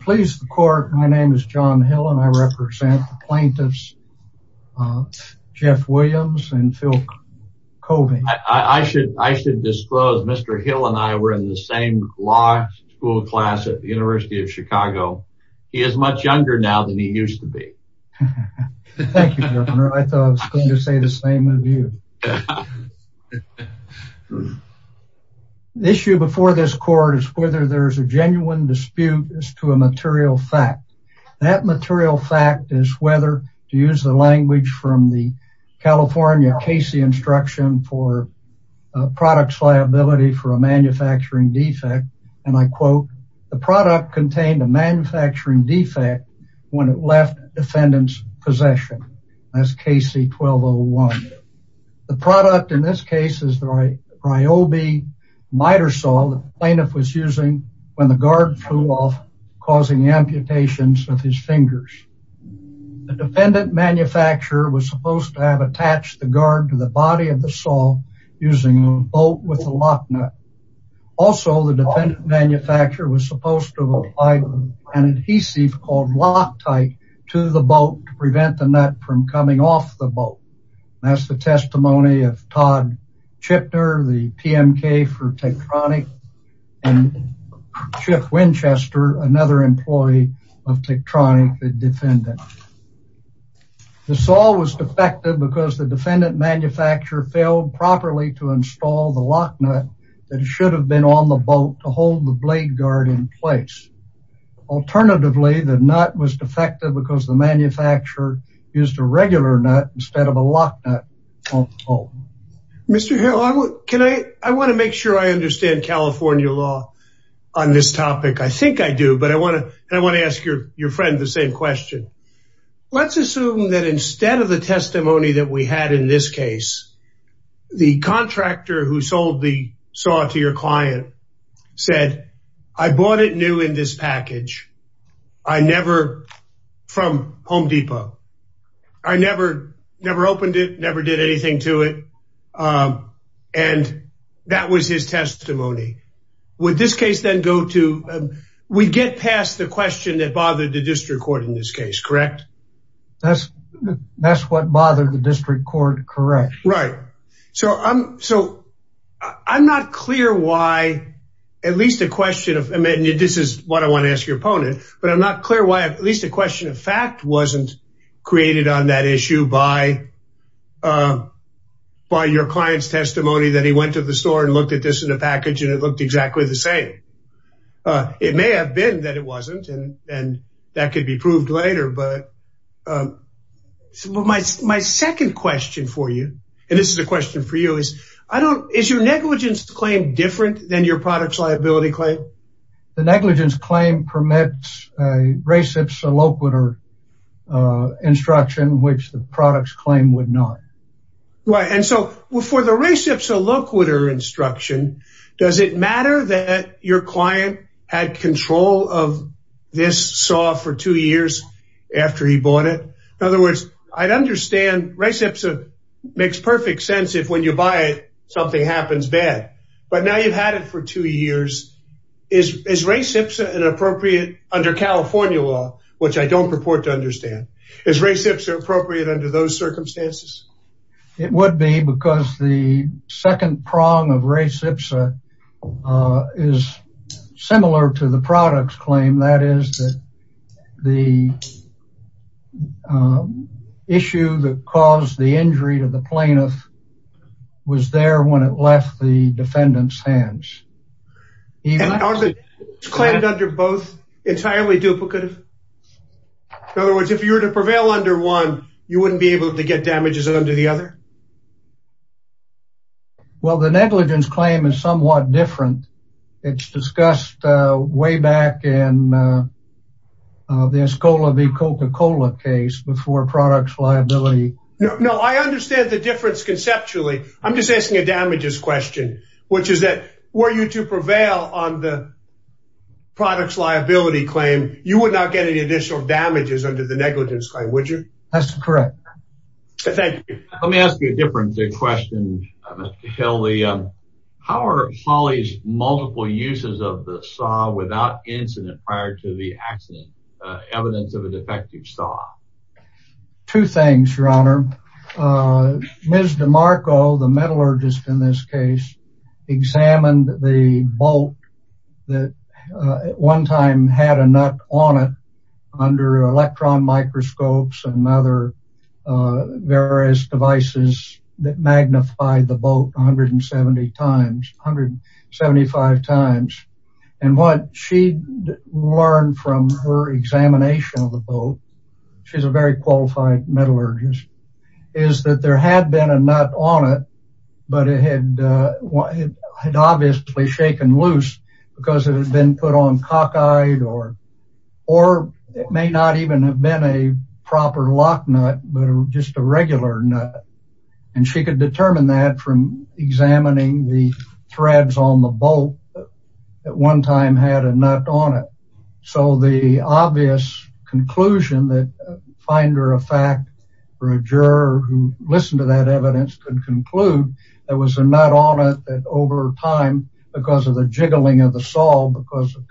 Please the court. My name is John Hill and I represent plaintiffs Jeff Williams and Phil Colby. I should I should disclose Mr. Hill and I were in the same law school class at the University of Chicago. He is much younger now than he used to be. Thank you. I thought I was going to say the same of you. The issue before this court is whether there's a genuine dispute as to a material fact. That material fact is whether to use the language from the California Casey instruction for products liability for a manufacturing defect. And I quote, the product contained a manufacturing defect when it left defendant's possession as Casey 1201. The product in this case is the Ryobi miter saw the plaintiff was using when the guard flew off causing amputations with his fingers. The defendant manufacturer was supposed to have attached the guard to the body of the saw using a bolt with a lock nut. Also the defendant manufacturer was supposed to have applied an adhesive called Loctite to the boat to prevent the nut from coming off the boat. That's the testimony of Todd Chipner, the PMK for Techtronic and Jeff Winchester, another employee of Techtronic, the defendant. The saw was defective because the defendant manufacturer failed properly to install the alternatively, the nut was defective because the manufacturer used a regular nut instead of a lock nut on the boat. Mr. Hill, I want to make sure I understand California law on this topic. I think I do, but I want to ask your friend the same question. Let's assume that instead of the testimony that we had in this case, the contractor who sold the saw to your client said, I bought it new in this package from Home Depot. I never opened it, never did anything to it and that was his testimony. Would this case then go to, we get past the question that bothered the district court in this case, correct? That's what bothered the district court, correct. Right, so I'm not clear why at least a question of, and this is what I want to ask your opponent, but I'm not clear why at least a question of fact wasn't created on that issue by your client's testimony that he went to the store and looked at this in a package and it looked exactly the same. It may have been that it wasn't and that could be proved later, but my second question for you, and this is a question for you, is your negligence claim different than your product's liability claim? The negligence claim permits a reciprocal instruction which the product's claim would not. Right, and so for the reciprocal instruction, does it matter that your client had control of this saw for two years after he bought it? In other words, I'd understand Recipsa makes perfect sense if when you buy it something happens bad, but now you've had it for two years. Is Recipsa an appropriate under California law, which I don't purport to understand, is Recipsa appropriate under those circumstances? It would be because the second prong of Recipsa is similar to the product's claim. That is that the issue that caused the injury to the plaintiff was there when it left the defendant's hands. Are the claims under both entirely duplicative? In other words, if you were to prevail under one, you wouldn't be able to get damages under the other? Well, the negligence claim is somewhat different. It's discussed way back in the Escola v. Coca-Cola case before product's liability. No, I understand the difference conceptually. I'm just asking a damages question, which is that were you to prevail on the product's liability claim, you would not get any additional damages under the negligence claim, would you? That's correct. Thank you. Let me ask you a different question, Mr. Cahill. How are prior to the accident evidence of a defective saw? Two things, your honor. Ms. DeMarco, the metallurgist in this case, examined the bolt that at one time had a nut on it under electron microscopes and other various devices that magnified the bolt 170 times, 175 times. And what she learned from her examination of the bolt, she's a very qualified metallurgist, is that there had been a nut on it, but it had obviously shaken loose because it had been put on cockeyed or it may not even have been a proper lock nut, but just a regular nut. And she could determine that from examining the threads on the bolt that at one time had a nut on it. So the obvious conclusion that finder of fact or a juror who listened to that evidence could conclude there was a nut on it that over time, because of the jiggling of the saw, because of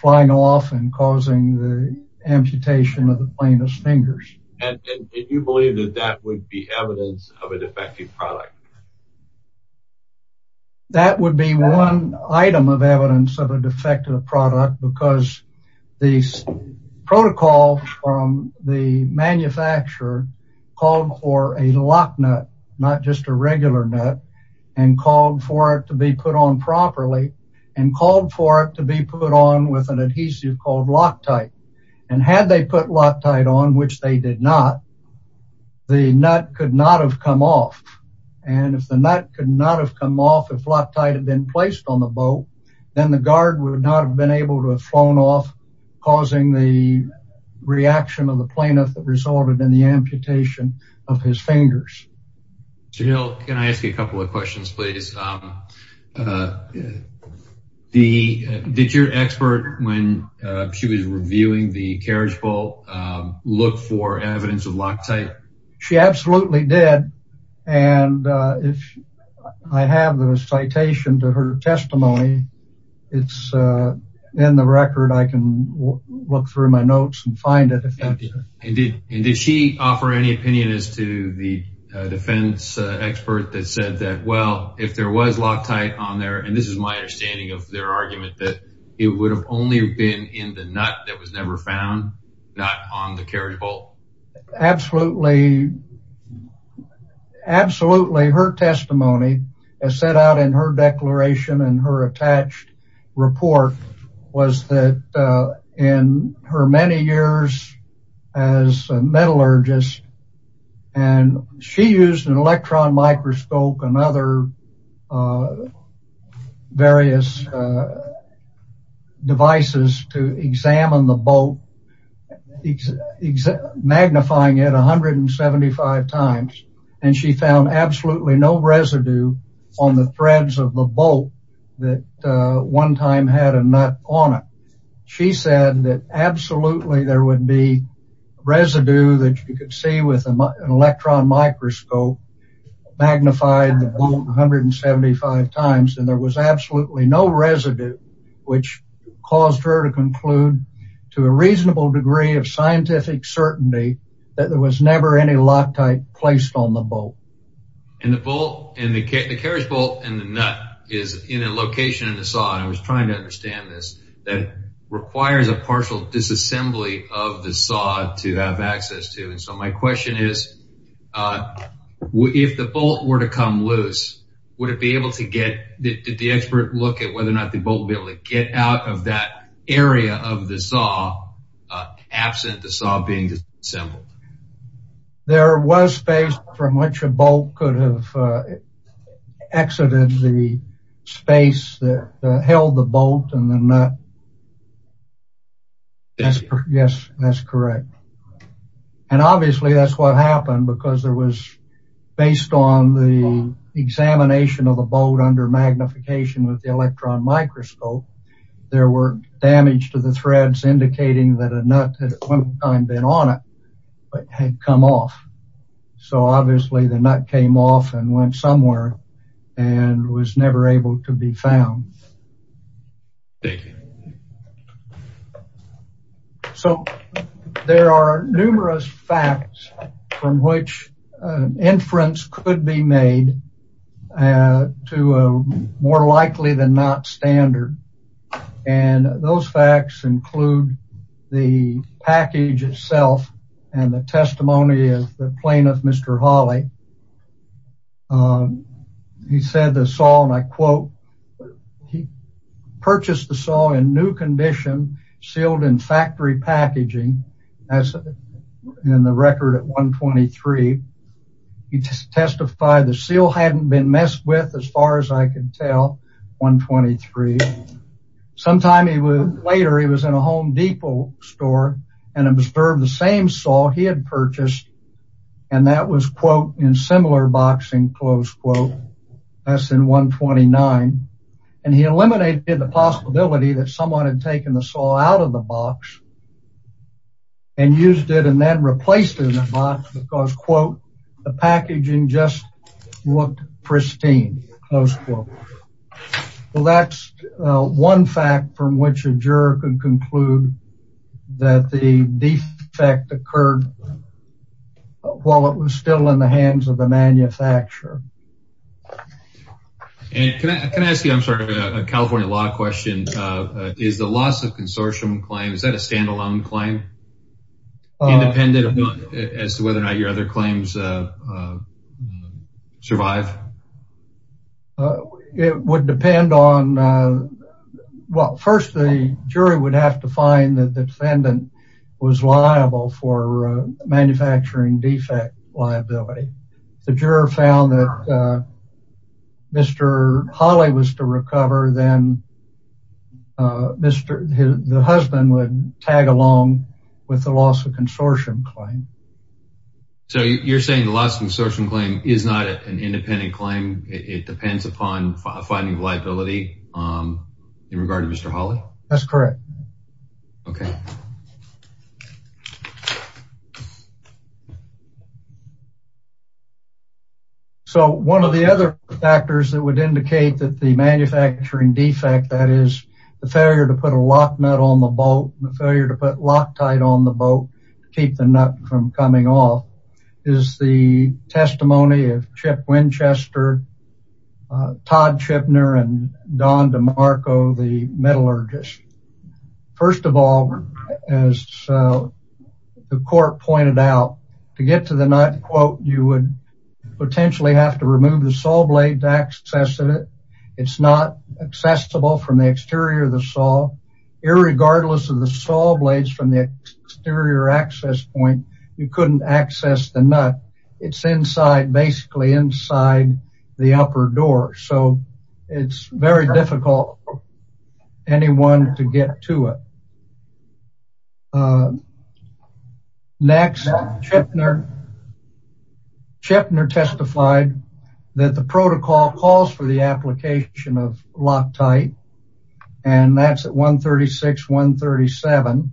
flying off and causing the amputation of the plaintiff's fingers. And you believe that that would be evidence of a defective product? That would be one item of evidence of a defective product because the protocol from the manufacturer called for a lock nut, not just a regular nut, and called for it to be put on properly and called for it to be put on with an adhesive called Loctite. And had they put Loctite on, which they did not, the nut could not have come off. And if the nut could not have come off, if Loctite had been placed on the bolt, then the guard would not have been able to have flown off, causing the reaction of the amputation of his fingers. Can I ask you a couple of questions, please? Did your expert, when she was reviewing the carriage bolt, look for evidence of Loctite? She absolutely did. And if I have the citation to her testimony, it's in the record. I can look through my notes and find it. And did she offer any opinion as to the defense expert that said that, well, if there was Loctite on there, and this is my understanding of their argument, that it would have only been in the nut that was never found, not on the carriage bolt? Absolutely. Absolutely. Her testimony as set out in her declaration and her attached report was that in her many years as a metallurgist, and she used an electron microscope and other various devices to examine the bolt, magnifying it 175 times. And she found absolutely no residue on the threads of the bolt that one time had a nut on it. She said that absolutely there would be residue that you could see with an electron microscope, magnified the bolt 175 times, and there was absolutely no residue, which caused her to conclude to a reasonable degree of scientific certainty that there was never any Loctite placed on the bolt. And the carriage bolt and the nut is in a location in the saw, and I was trying to understand this, that requires a partial disassembly of the saw to have access to. And so my question is, if the bolt were to come loose, would it be able to get, did the expert look at whether or not the bolt would be able to get out of that area of the saw absent the saw being disassembled? There was space from which a bolt could have exited the space that held the bolt and the nut. Yes, that's correct. And obviously that's what happened because there was, based on the examination of the bolt under magnification with the electron microscope, there were damage to the threads indicating that a nut had at one time been on it. But had come off. So obviously the nut came off and went somewhere and was never able to be found. So there are numerous facts from which inference could be made to a more likely than not standard. And those facts include the package itself and the testimony of the plaintiff, Mr. Hawley. He said the saw, and I quote, he purchased the saw in new condition, sealed in factory packaging as in the record at 123. He testified the seal hadn't been messed with as far as I can tell, 123. Sometime later he was in a Home Depot store and observed the same saw he had purchased. And that was quote, in similar boxing close quote, as in 129. And he eliminated the possibility that someone had taken the saw out of the box and used it and then replaced it in the box because quote, the packaging just looked pristine. Close quote. Well, that's one fact from which a juror can conclude that the defect occurred while it was still in the hands of the manufacturer. And can I ask you, I'm sorry, a California law question. Is the loss of consortium claim, is that a standalone claim? Independent as to whether or not your other claims survive? It would depend on, well, first the jury would have to find that the defendant was liable for manufacturing defect liability. If the juror found that Mr. Hawley was to recover, then the husband would tag along with the loss of consortium claim. So you're saying the loss of consortium claim is not an independent claim, it depends upon finding liability in regard to Mr. Hawley? That's correct. Okay. So one of the other factors that would indicate that the manufacturing defect, that is the failure to put a lock nut on the boat, the failure to put Loctite on the boat to keep the nut from coming off, is the testimony of Chip Winchester, Todd Chipner, and Don DeMarco, the metallurgist. First of all, as the court pointed out, to get to the nut, quote, you would potentially have to remove the saw blade to access it. It's not accessible from the exterior of the saw. Irregardless of the saw blades from the exterior access point, you couldn't access the nut. It's inside, basically inside the upper door. So it's very difficult for anyone to get to it. Next, Chipner testified that the protocol calls for the application of Loctite, and that's at 136, 137.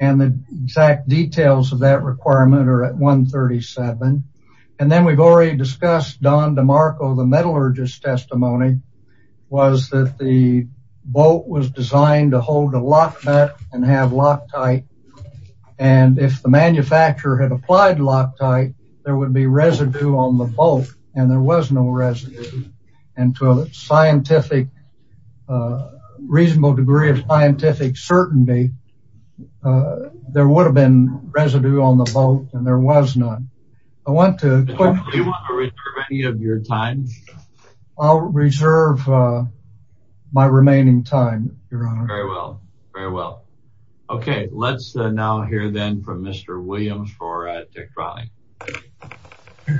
And the exact details of that requirement are at 137. And then we've already discussed Don DeMarco, the metallurgist testimony, was that the boat was designed to hold a lock nut and have Loctite. And if the manufacturer had applied Loctite, there would be residue on the boat, and there was no residue. And to a scientific, reasonable degree of scientific certainty, there would have been residue on the boat, and there was none. I want to- Do you want to reserve any of your time? I'll reserve my remaining time, Your Honor. Very well, very well. Okay, let's now hear then from Mr. Williams for Dick Trotting. Thank you.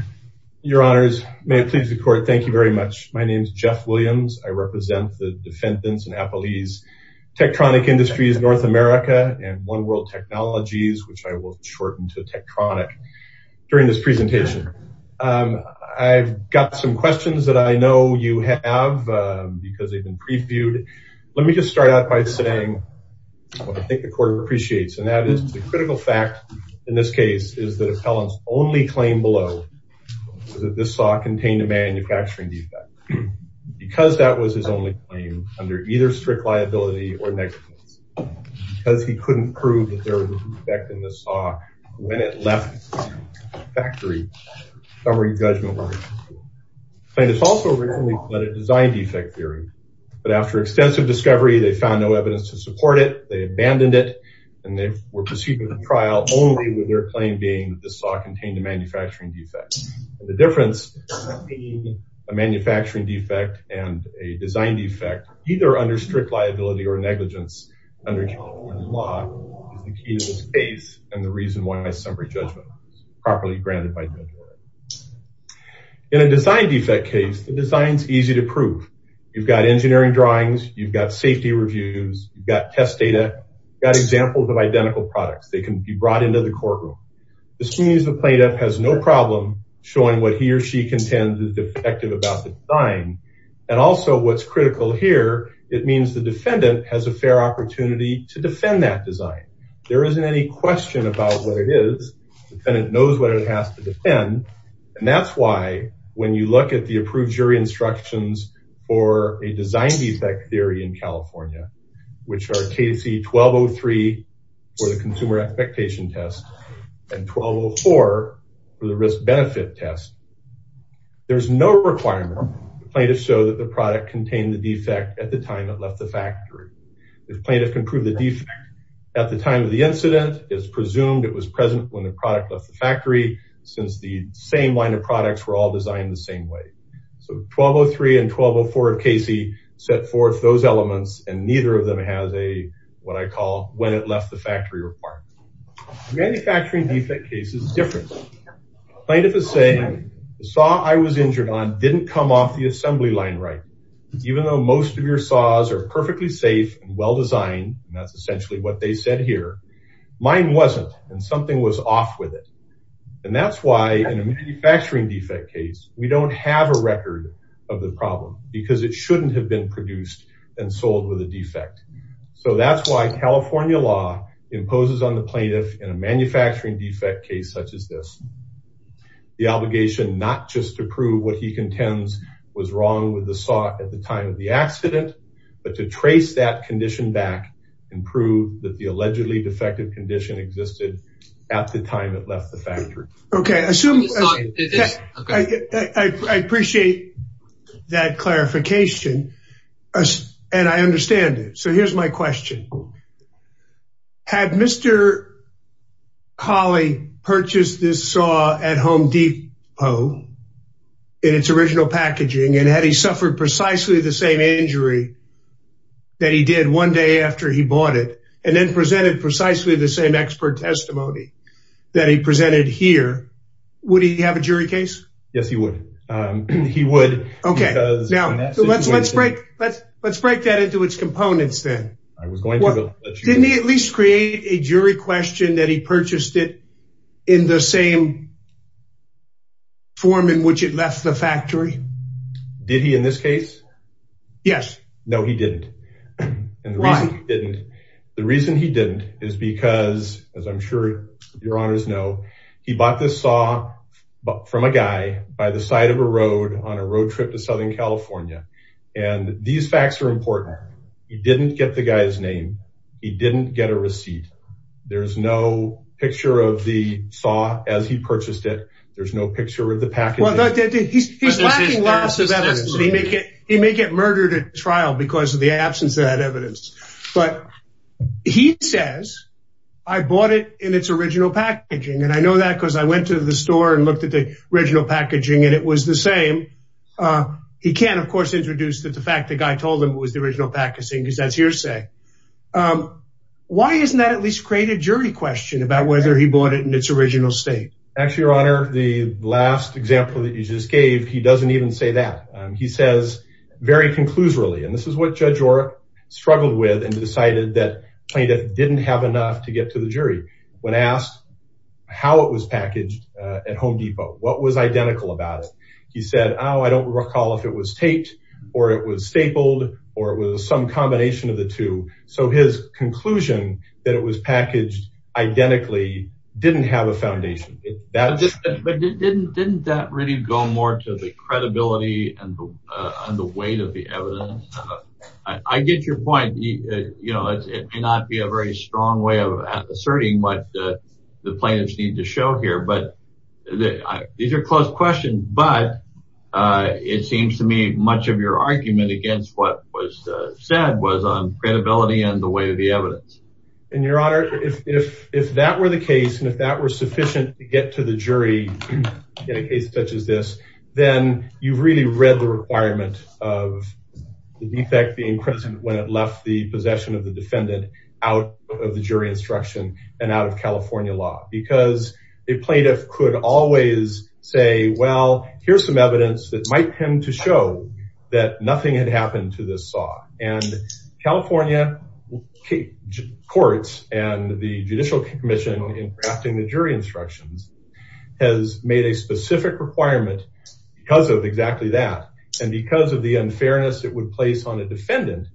Your Honors, may it please the Court, thank you very much. My name is Jeff Williams. I represent the defendants in Applebee's Tektronik Industries, North America, and One World Technologies, which I will shorten to Tektronik during this presentation. I've got some questions that I know you have because they've been previewed. Let me just start out by saying what I think the Court appreciates, and that is the critical fact in this case is that Appellant's only claim below was that this saw contained a manufacturing defect, because that was his only claim under either strict liability or negligence, because he couldn't prove that there was an effect in the saw when it left the factory covering judgment. Appellant has also recently pled a design defect theory, but after extensive discovery, they found no evidence to support it. They abandoned it, and they were proceeding with the trial only with their claim being that the saw contained a manufacturing defect. The difference between a manufacturing defect and a design defect, either under strict liability or negligence under the law is the key to this case and the reason why summary judgment was properly granted by the judge. In a design defect case, the design's easy to prove. You've got engineering drawings, you've got safety reviews, you've got test data, you've got examples of identical products. They can be brought into the courtroom. This means the plaintiff has no problem showing what he or she contends is defective about the design, and also what's critical here, it means the defendant has a fair opportunity to defend that design. There isn't any question about what it is. The defendant knows what it has to defend, and that's why when you look at the approved jury instructions for a design defect theory in the Consumer Expectation Test and 1204 for the Risk Benefit Test, there's no requirement. The plaintiff showed that the product contained the defect at the time it left the factory. The plaintiff can prove the defect at the time of the incident. It's presumed it was present when the product left the factory, since the same line of products were all designed the same way. So 1203 and 1204 of Casey set forth those elements, and neither of them has a, what I call, when it left the factory requirement. The manufacturing defect case is different. Plaintiff is saying, the saw I was injured on didn't come off the assembly line right. Even though most of your saws are perfectly safe and well designed, and that's essentially what they said here, mine wasn't, and something was off with it. And that's why in a manufacturing defect case, we don't have a record of the problem, because it shouldn't have been produced and sold with a defect. So that's why California law imposes on the plaintiff in a manufacturing defect case such as this, the obligation not just to prove what he contends was wrong with the saw at the time of the accident, but to trace that condition back and prove that the allegedly defective condition existed at the time it left the factory. Okay, I appreciate that clarification, and I understand it. So here's my question. Had Mr. Hawley purchased this saw at Home Depot in its original packaging, and had he suffered precisely the same injury that he did one day after he bought it, and then presented precisely the same expert testimony that he presented here, would he have a jury case? Yes, he would. He would. Okay, now let's break that into its components then. Didn't he at least create a jury question that he purchased it in the same form in which it left the factory? Did he in this case? Yes. No, he didn't. And the reason he didn't is because, as I'm sure your honors know, he bought this saw from a guy by the side of a road on a road trip to Southern California. And these facts are important. He didn't get the guy's name. He didn't get a receipt. There's no picture of the saw as he purchased it. There's no picture of the packaging. He's lacking lots of evidence, and he may get murdered at trial because of the absence of that evidence. But he says, I bought it in its original packaging, and I know that because I went to the store and looked at the original packaging, and it was the same. He can, of course, introduce that the fact the guy told him it was the original packaging, because that's hearsay. Why isn't that at least create a jury question about whether he bought it in its original state? Actually, your honor, the last example that you just gave, he doesn't even say that. He says very conclusively, and this is what Judge Orr struggled with and decided that plaintiff didn't have enough to get to the jury. When asked how it was packaged at Home Depot, what was identical about it? He said, oh, I don't recall if it was taped or it was stapled or it was some combination of the two. So his conclusion that it was packaged identically didn't have a foundation. But didn't that really go more to the credibility and the weight of the evidence? I get your point. It may not be a very strong way of asserting what the plaintiffs need to show here, but these are close questions. But it seems to me much of your argument against what was said was on credibility and the weight of the evidence. And your honor, if that were the case and if that were sufficient to get to the jury in a case such as this, then you've really read the requirement of the defect being present when it left the possession of the defendant out of the jury instruction and out of California law. Because a plaintiff could always say, well, here's some evidence that might tend to show that nothing had happened to this saw. And California courts and the Judicial Commission in drafting the jury instructions has made a specific requirement because of exactly that. And because of the unfairness it would place on a defendant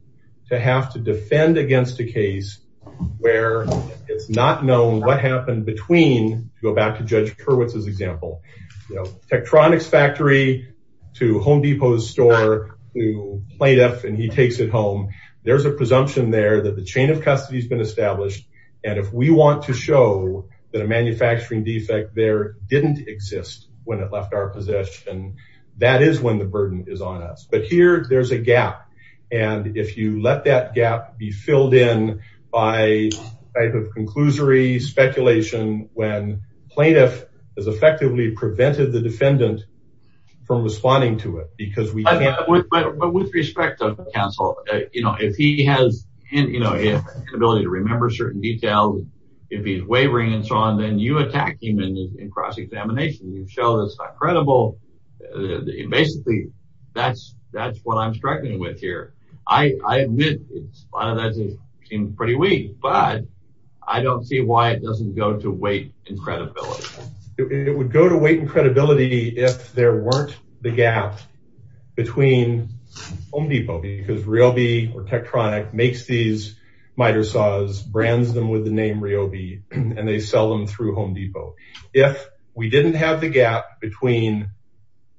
to have to defend against a case where it's not known what happened between, to go back to Judge Hurwitz's example, Tektronix factory to Home Depot's store to plaintiff and he takes it home. There's a presumption there that the chain of custody has been established. And if we want to show that a manufacturing defect there didn't exist when it left our possession, that is when the burden is on us. But here there's a gap. And if you let that gap be filled in by type of conclusory speculation, when plaintiff has effectively prevented the defendant from responding to it, because we can't. But with respect to counsel, if he has an inability to remember certain details, if he's wavering and so on, then you attack him in cross-examination. You show that's not credible. And basically that's what I'm struggling with here. I admit a lot of that seems pretty weak, but I don't see why it doesn't go to weight and credibility. It would go to weight and credibility if there weren't the gap between Home Depot, because RYOBI or Tektronix makes these miter saws, brands them with the name RYOBI, and they sell them through Home Depot. If we didn't have the gap between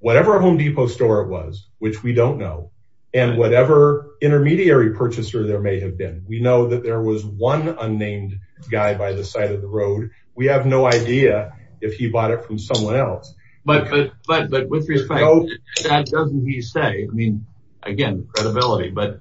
whatever Home Depot store it was, which we don't know, and whatever intermediary purchaser there may have been, we know that there was one unnamed guy by the side of the road. We have no idea if he bought it from someone else. But with respect to that, doesn't he say, I mean, again, credibility, but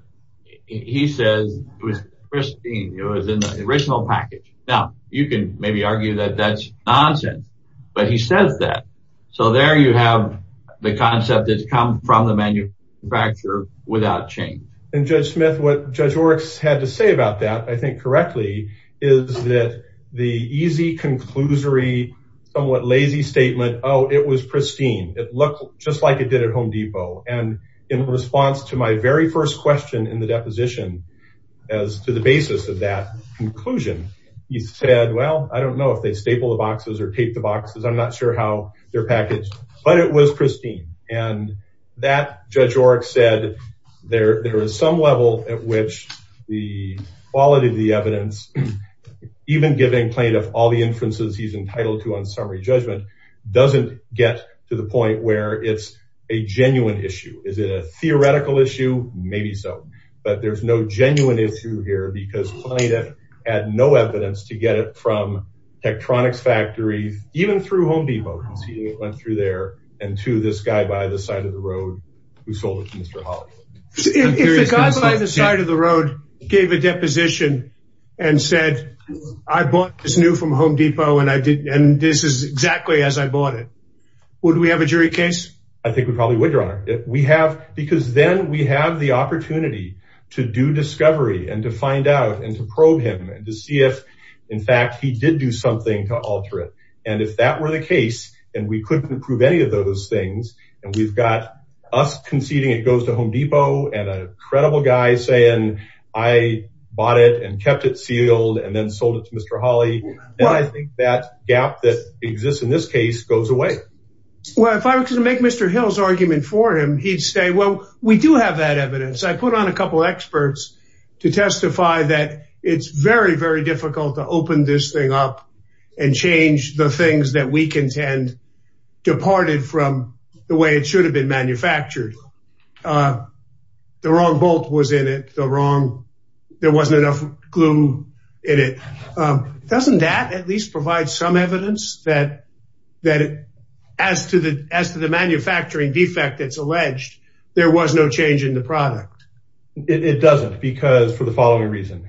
he says it was pristine. It was in the original package. Now you can maybe argue that that's nonsense, but he says that. So there you have the concept that's come from the manufacturer without change. And Judge Smith, what Judge Oryx had to say about that, I think correctly, is that the easy conclusory, somewhat lazy statement, oh, it was pristine. It looked just like it did at Home Depot. And in response to my very first question in the deposition, as to the basis of that conclusion, he said, well, I don't know if they staple the boxes or tape the boxes. I'm not sure how they're packaged, but it was pristine. And that Judge Oryx said there was some level at which the quality of the evidence, even giving plaintiff all the inferences he's entitled to on summary judgment, doesn't get to the point where it's a genuine issue. Is it a theoretical issue? Maybe so. But there's no genuine issue here because plaintiff had no evidence to get it from Tektronix factories, even through Home Depot. He went through there and to this guy by the side of the road who sold it to Mr. Holley. If the guy by the side of the road gave a deposition and said, I bought this new from Home Depot and this is exactly as I bought it, would we have a jury case? I think we probably would, Your Honor. Because then we have the opportunity to do discovery and to find out and to probe him and to see if, in fact, he did do something to alter it. And if that were the case, and we couldn't prove any of those things, and we've got us conceding it goes Home Depot and a credible guy saying, I bought it and kept it sealed and then sold it to Mr. Holley. I think that gap that exists in this case goes away. Well, if I were to make Mr. Hill's argument for him, he'd say, well, we do have that evidence. I put on a couple of experts to testify that it's very, very difficult to open this thing up and change the things that we manufactured. The wrong bolt was in it. There wasn't enough glue in it. Doesn't that at least provide some evidence that as to the manufacturing defect that's alleged, there was no change in the product? It doesn't because for the following reason.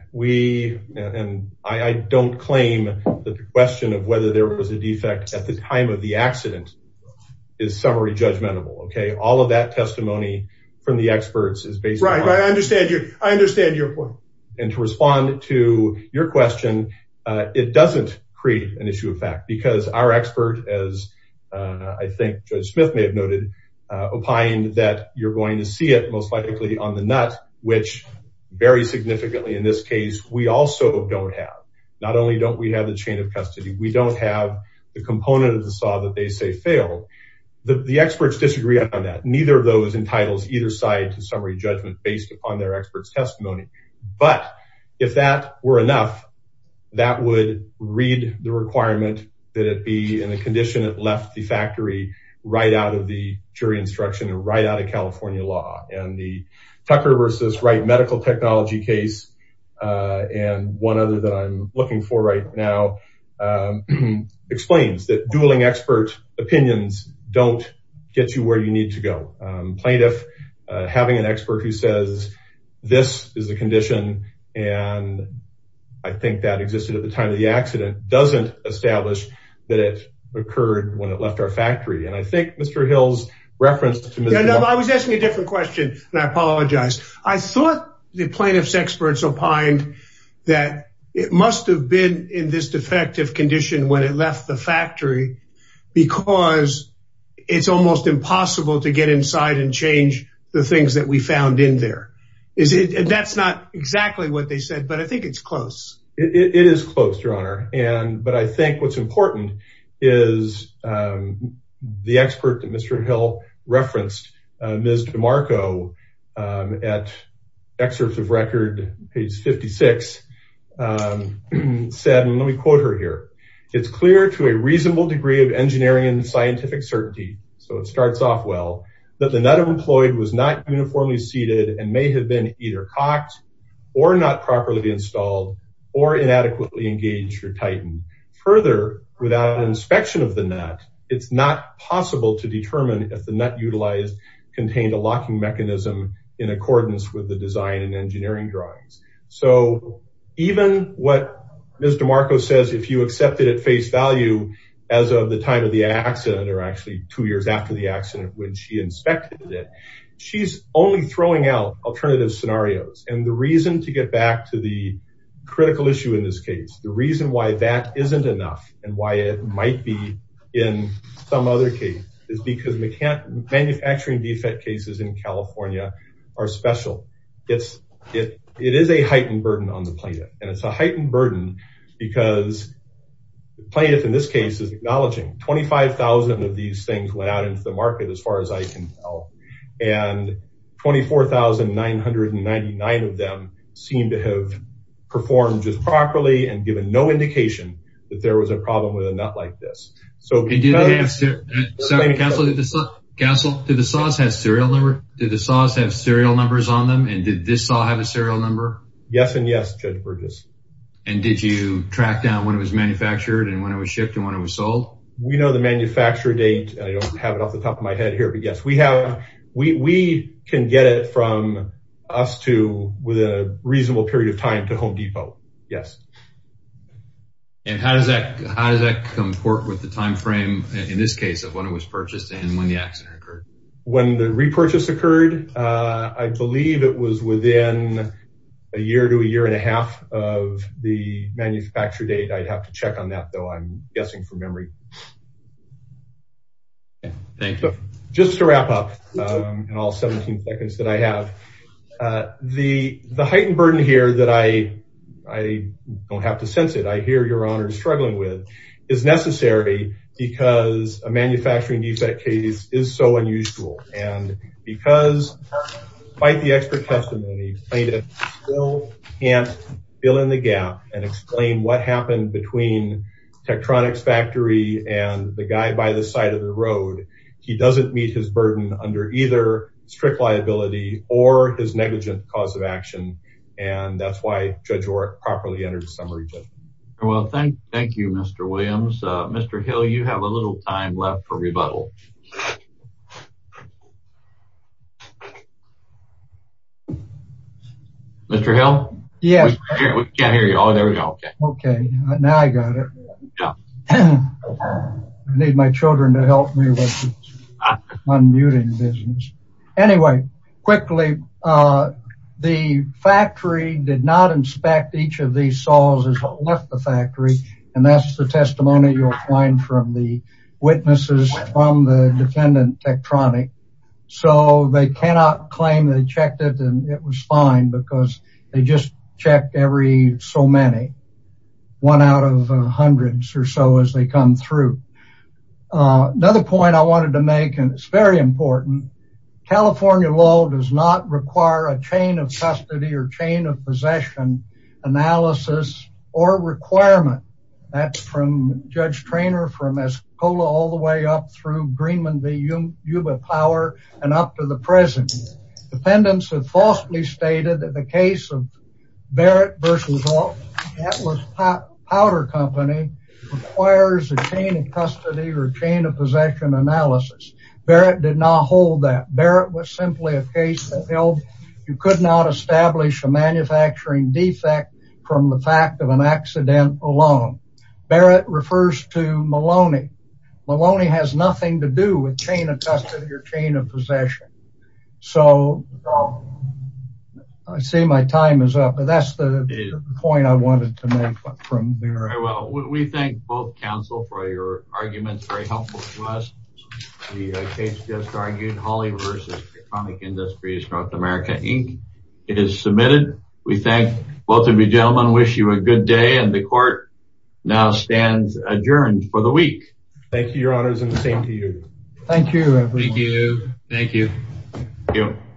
I don't claim that the question of there was a defect at the time of the accident is summary judgmental. Okay. All of that testimony from the experts is based. I understand your point. And to respond to your question, it doesn't create an issue of fact because our expert, as I think Judge Smith may have noted, opined that you're going to see it most likely on the nut, which very significantly in this case, we also don't have, not only don't we have the chain of custody, we don't have the component of the saw that they say failed. The experts disagree on that. Neither of those entitles either side to summary judgment based upon their expert's testimony. But if that were enough, that would read the requirement that it be in a condition that left the factory right out of the jury instruction and right out of California law and the Tucker versus Wright medical technology case. And one other that I'm looking for right now explains that dueling expert opinions don't get you where you need to go. Plaintiff having an expert who says this is the condition. And I think that existed at the time of the accident doesn't establish that it occurred when it left our factory. And I think Mr. Hill's reference to Mr. Hill. I was asking a different question and I apologize. I thought the plaintiff's experts opined that it must have been in this defective condition when it left the factory because it's almost impossible to get inside and change the things that we found in there. Is it? And that's not exactly what they said, but I think it's close. It is close, your honor. And, but I think what's important is the expert that Mr. Hill referenced Ms. DeMarco at excerpts of record page 56 said, and let me quote her here. It's clear to a reasonable degree of engineering and scientific certainty. So it starts off well, that the nut employed was not uniformly seated and may have been either cocked or not properly installed or inadequately engaged or tightened further without an inspection of the nut. It's not possible to determine if the nut utilized contained a locking mechanism in accordance with the design and engineering drawings. So even what Ms. DeMarco says, if you accept it at face value, as of the time of the accident, or actually two years after the accident, when she inspected it, she's only throwing out alternative scenarios. And the reason to get back to the critical issue in this case, the reason why that isn't enough and why it might be in some other case is because we can't manufacturing defect cases in California are special. It is a heightened burden on the plaintiff and it's a heightened burden because plaintiff in this case is acknowledging 25,000 of these things went out into the market as far as I can tell. And 24,999 of them seem to have performed just properly and given no indication that there was a problem with a nut like this. So did the saws have serial numbers on them? And did this saw have a serial number? Yes and yes, Judge Burgess. And did you track down when it was manufactured and when it was shipped and when it was sold? We know the manufacturer date. I don't have it off the top of my head here, but yes, we can get from us to within a reasonable period of time to Home Depot. Yes. And how does that comport with the timeframe in this case of when it was purchased and when the accident occurred? When the repurchase occurred, I believe it was within a year to a year and a half of the manufacture date. I'd have to check on that though. I'm guessing from memory. Okay. Thank you. Just to wrap up in all 17 seconds that I have, the heightened burden here that I don't have to sense it, I hear Your Honor is struggling with, is necessary because a manufacturing defect case is so unusual. And because despite the expert testimony plaintiff still can't fill in the gap and explain what happened between Tektronix factory and the guy by the side of the road, he doesn't meet his burden under either strict liability or his negligent cause of action. And that's why Judge Oreck properly entered the summary judgment. Well, thank you, Mr. Williams. Mr. Hill, you have a little time left for rebuttal. Mr. Hill? Yes. We can't hear you. Oh, there we go. Okay. Okay. Now I got it. I need my children to help me with the unmuting business. Anyway, quickly, the factory did not inspect each of these saws as they left the factory. And that's the testimony you'll find from the witnesses from the defendant Tektronix. So they cannot claim they checked it and it was fine because they just checked every so many, one out of hundreds or so as they come through. Another point I wanted to make, and it's very important, California law does not require a chain of custody or chain of possession analysis or requirement. That's from Judge Treanor from Escola all the way up through Yuba Power and up to the present. Dependents have falsely stated that the case of Barrett versus Atlas Powder Company requires a chain of custody or chain of possession analysis. Barrett did not hold that. Barrett was simply a case that held you could not establish a manufacturing defect from the fact of an accident alone. Barrett refers to Maloney. Maloney has nothing to do with chain of custody or chain of possession. So I see my time is up, but that's the point I wanted to make from Barrett. Well, we thank both counsel for your arguments. Very helpful to us. The case just argued, Holly versus Economic Industries, North America, Inc. is submitted. We thank both of you gentlemen, wish you a good day, and the court now stands adjourned for the week. Thank you, your honors, and the same to you. Thank you. Thank you.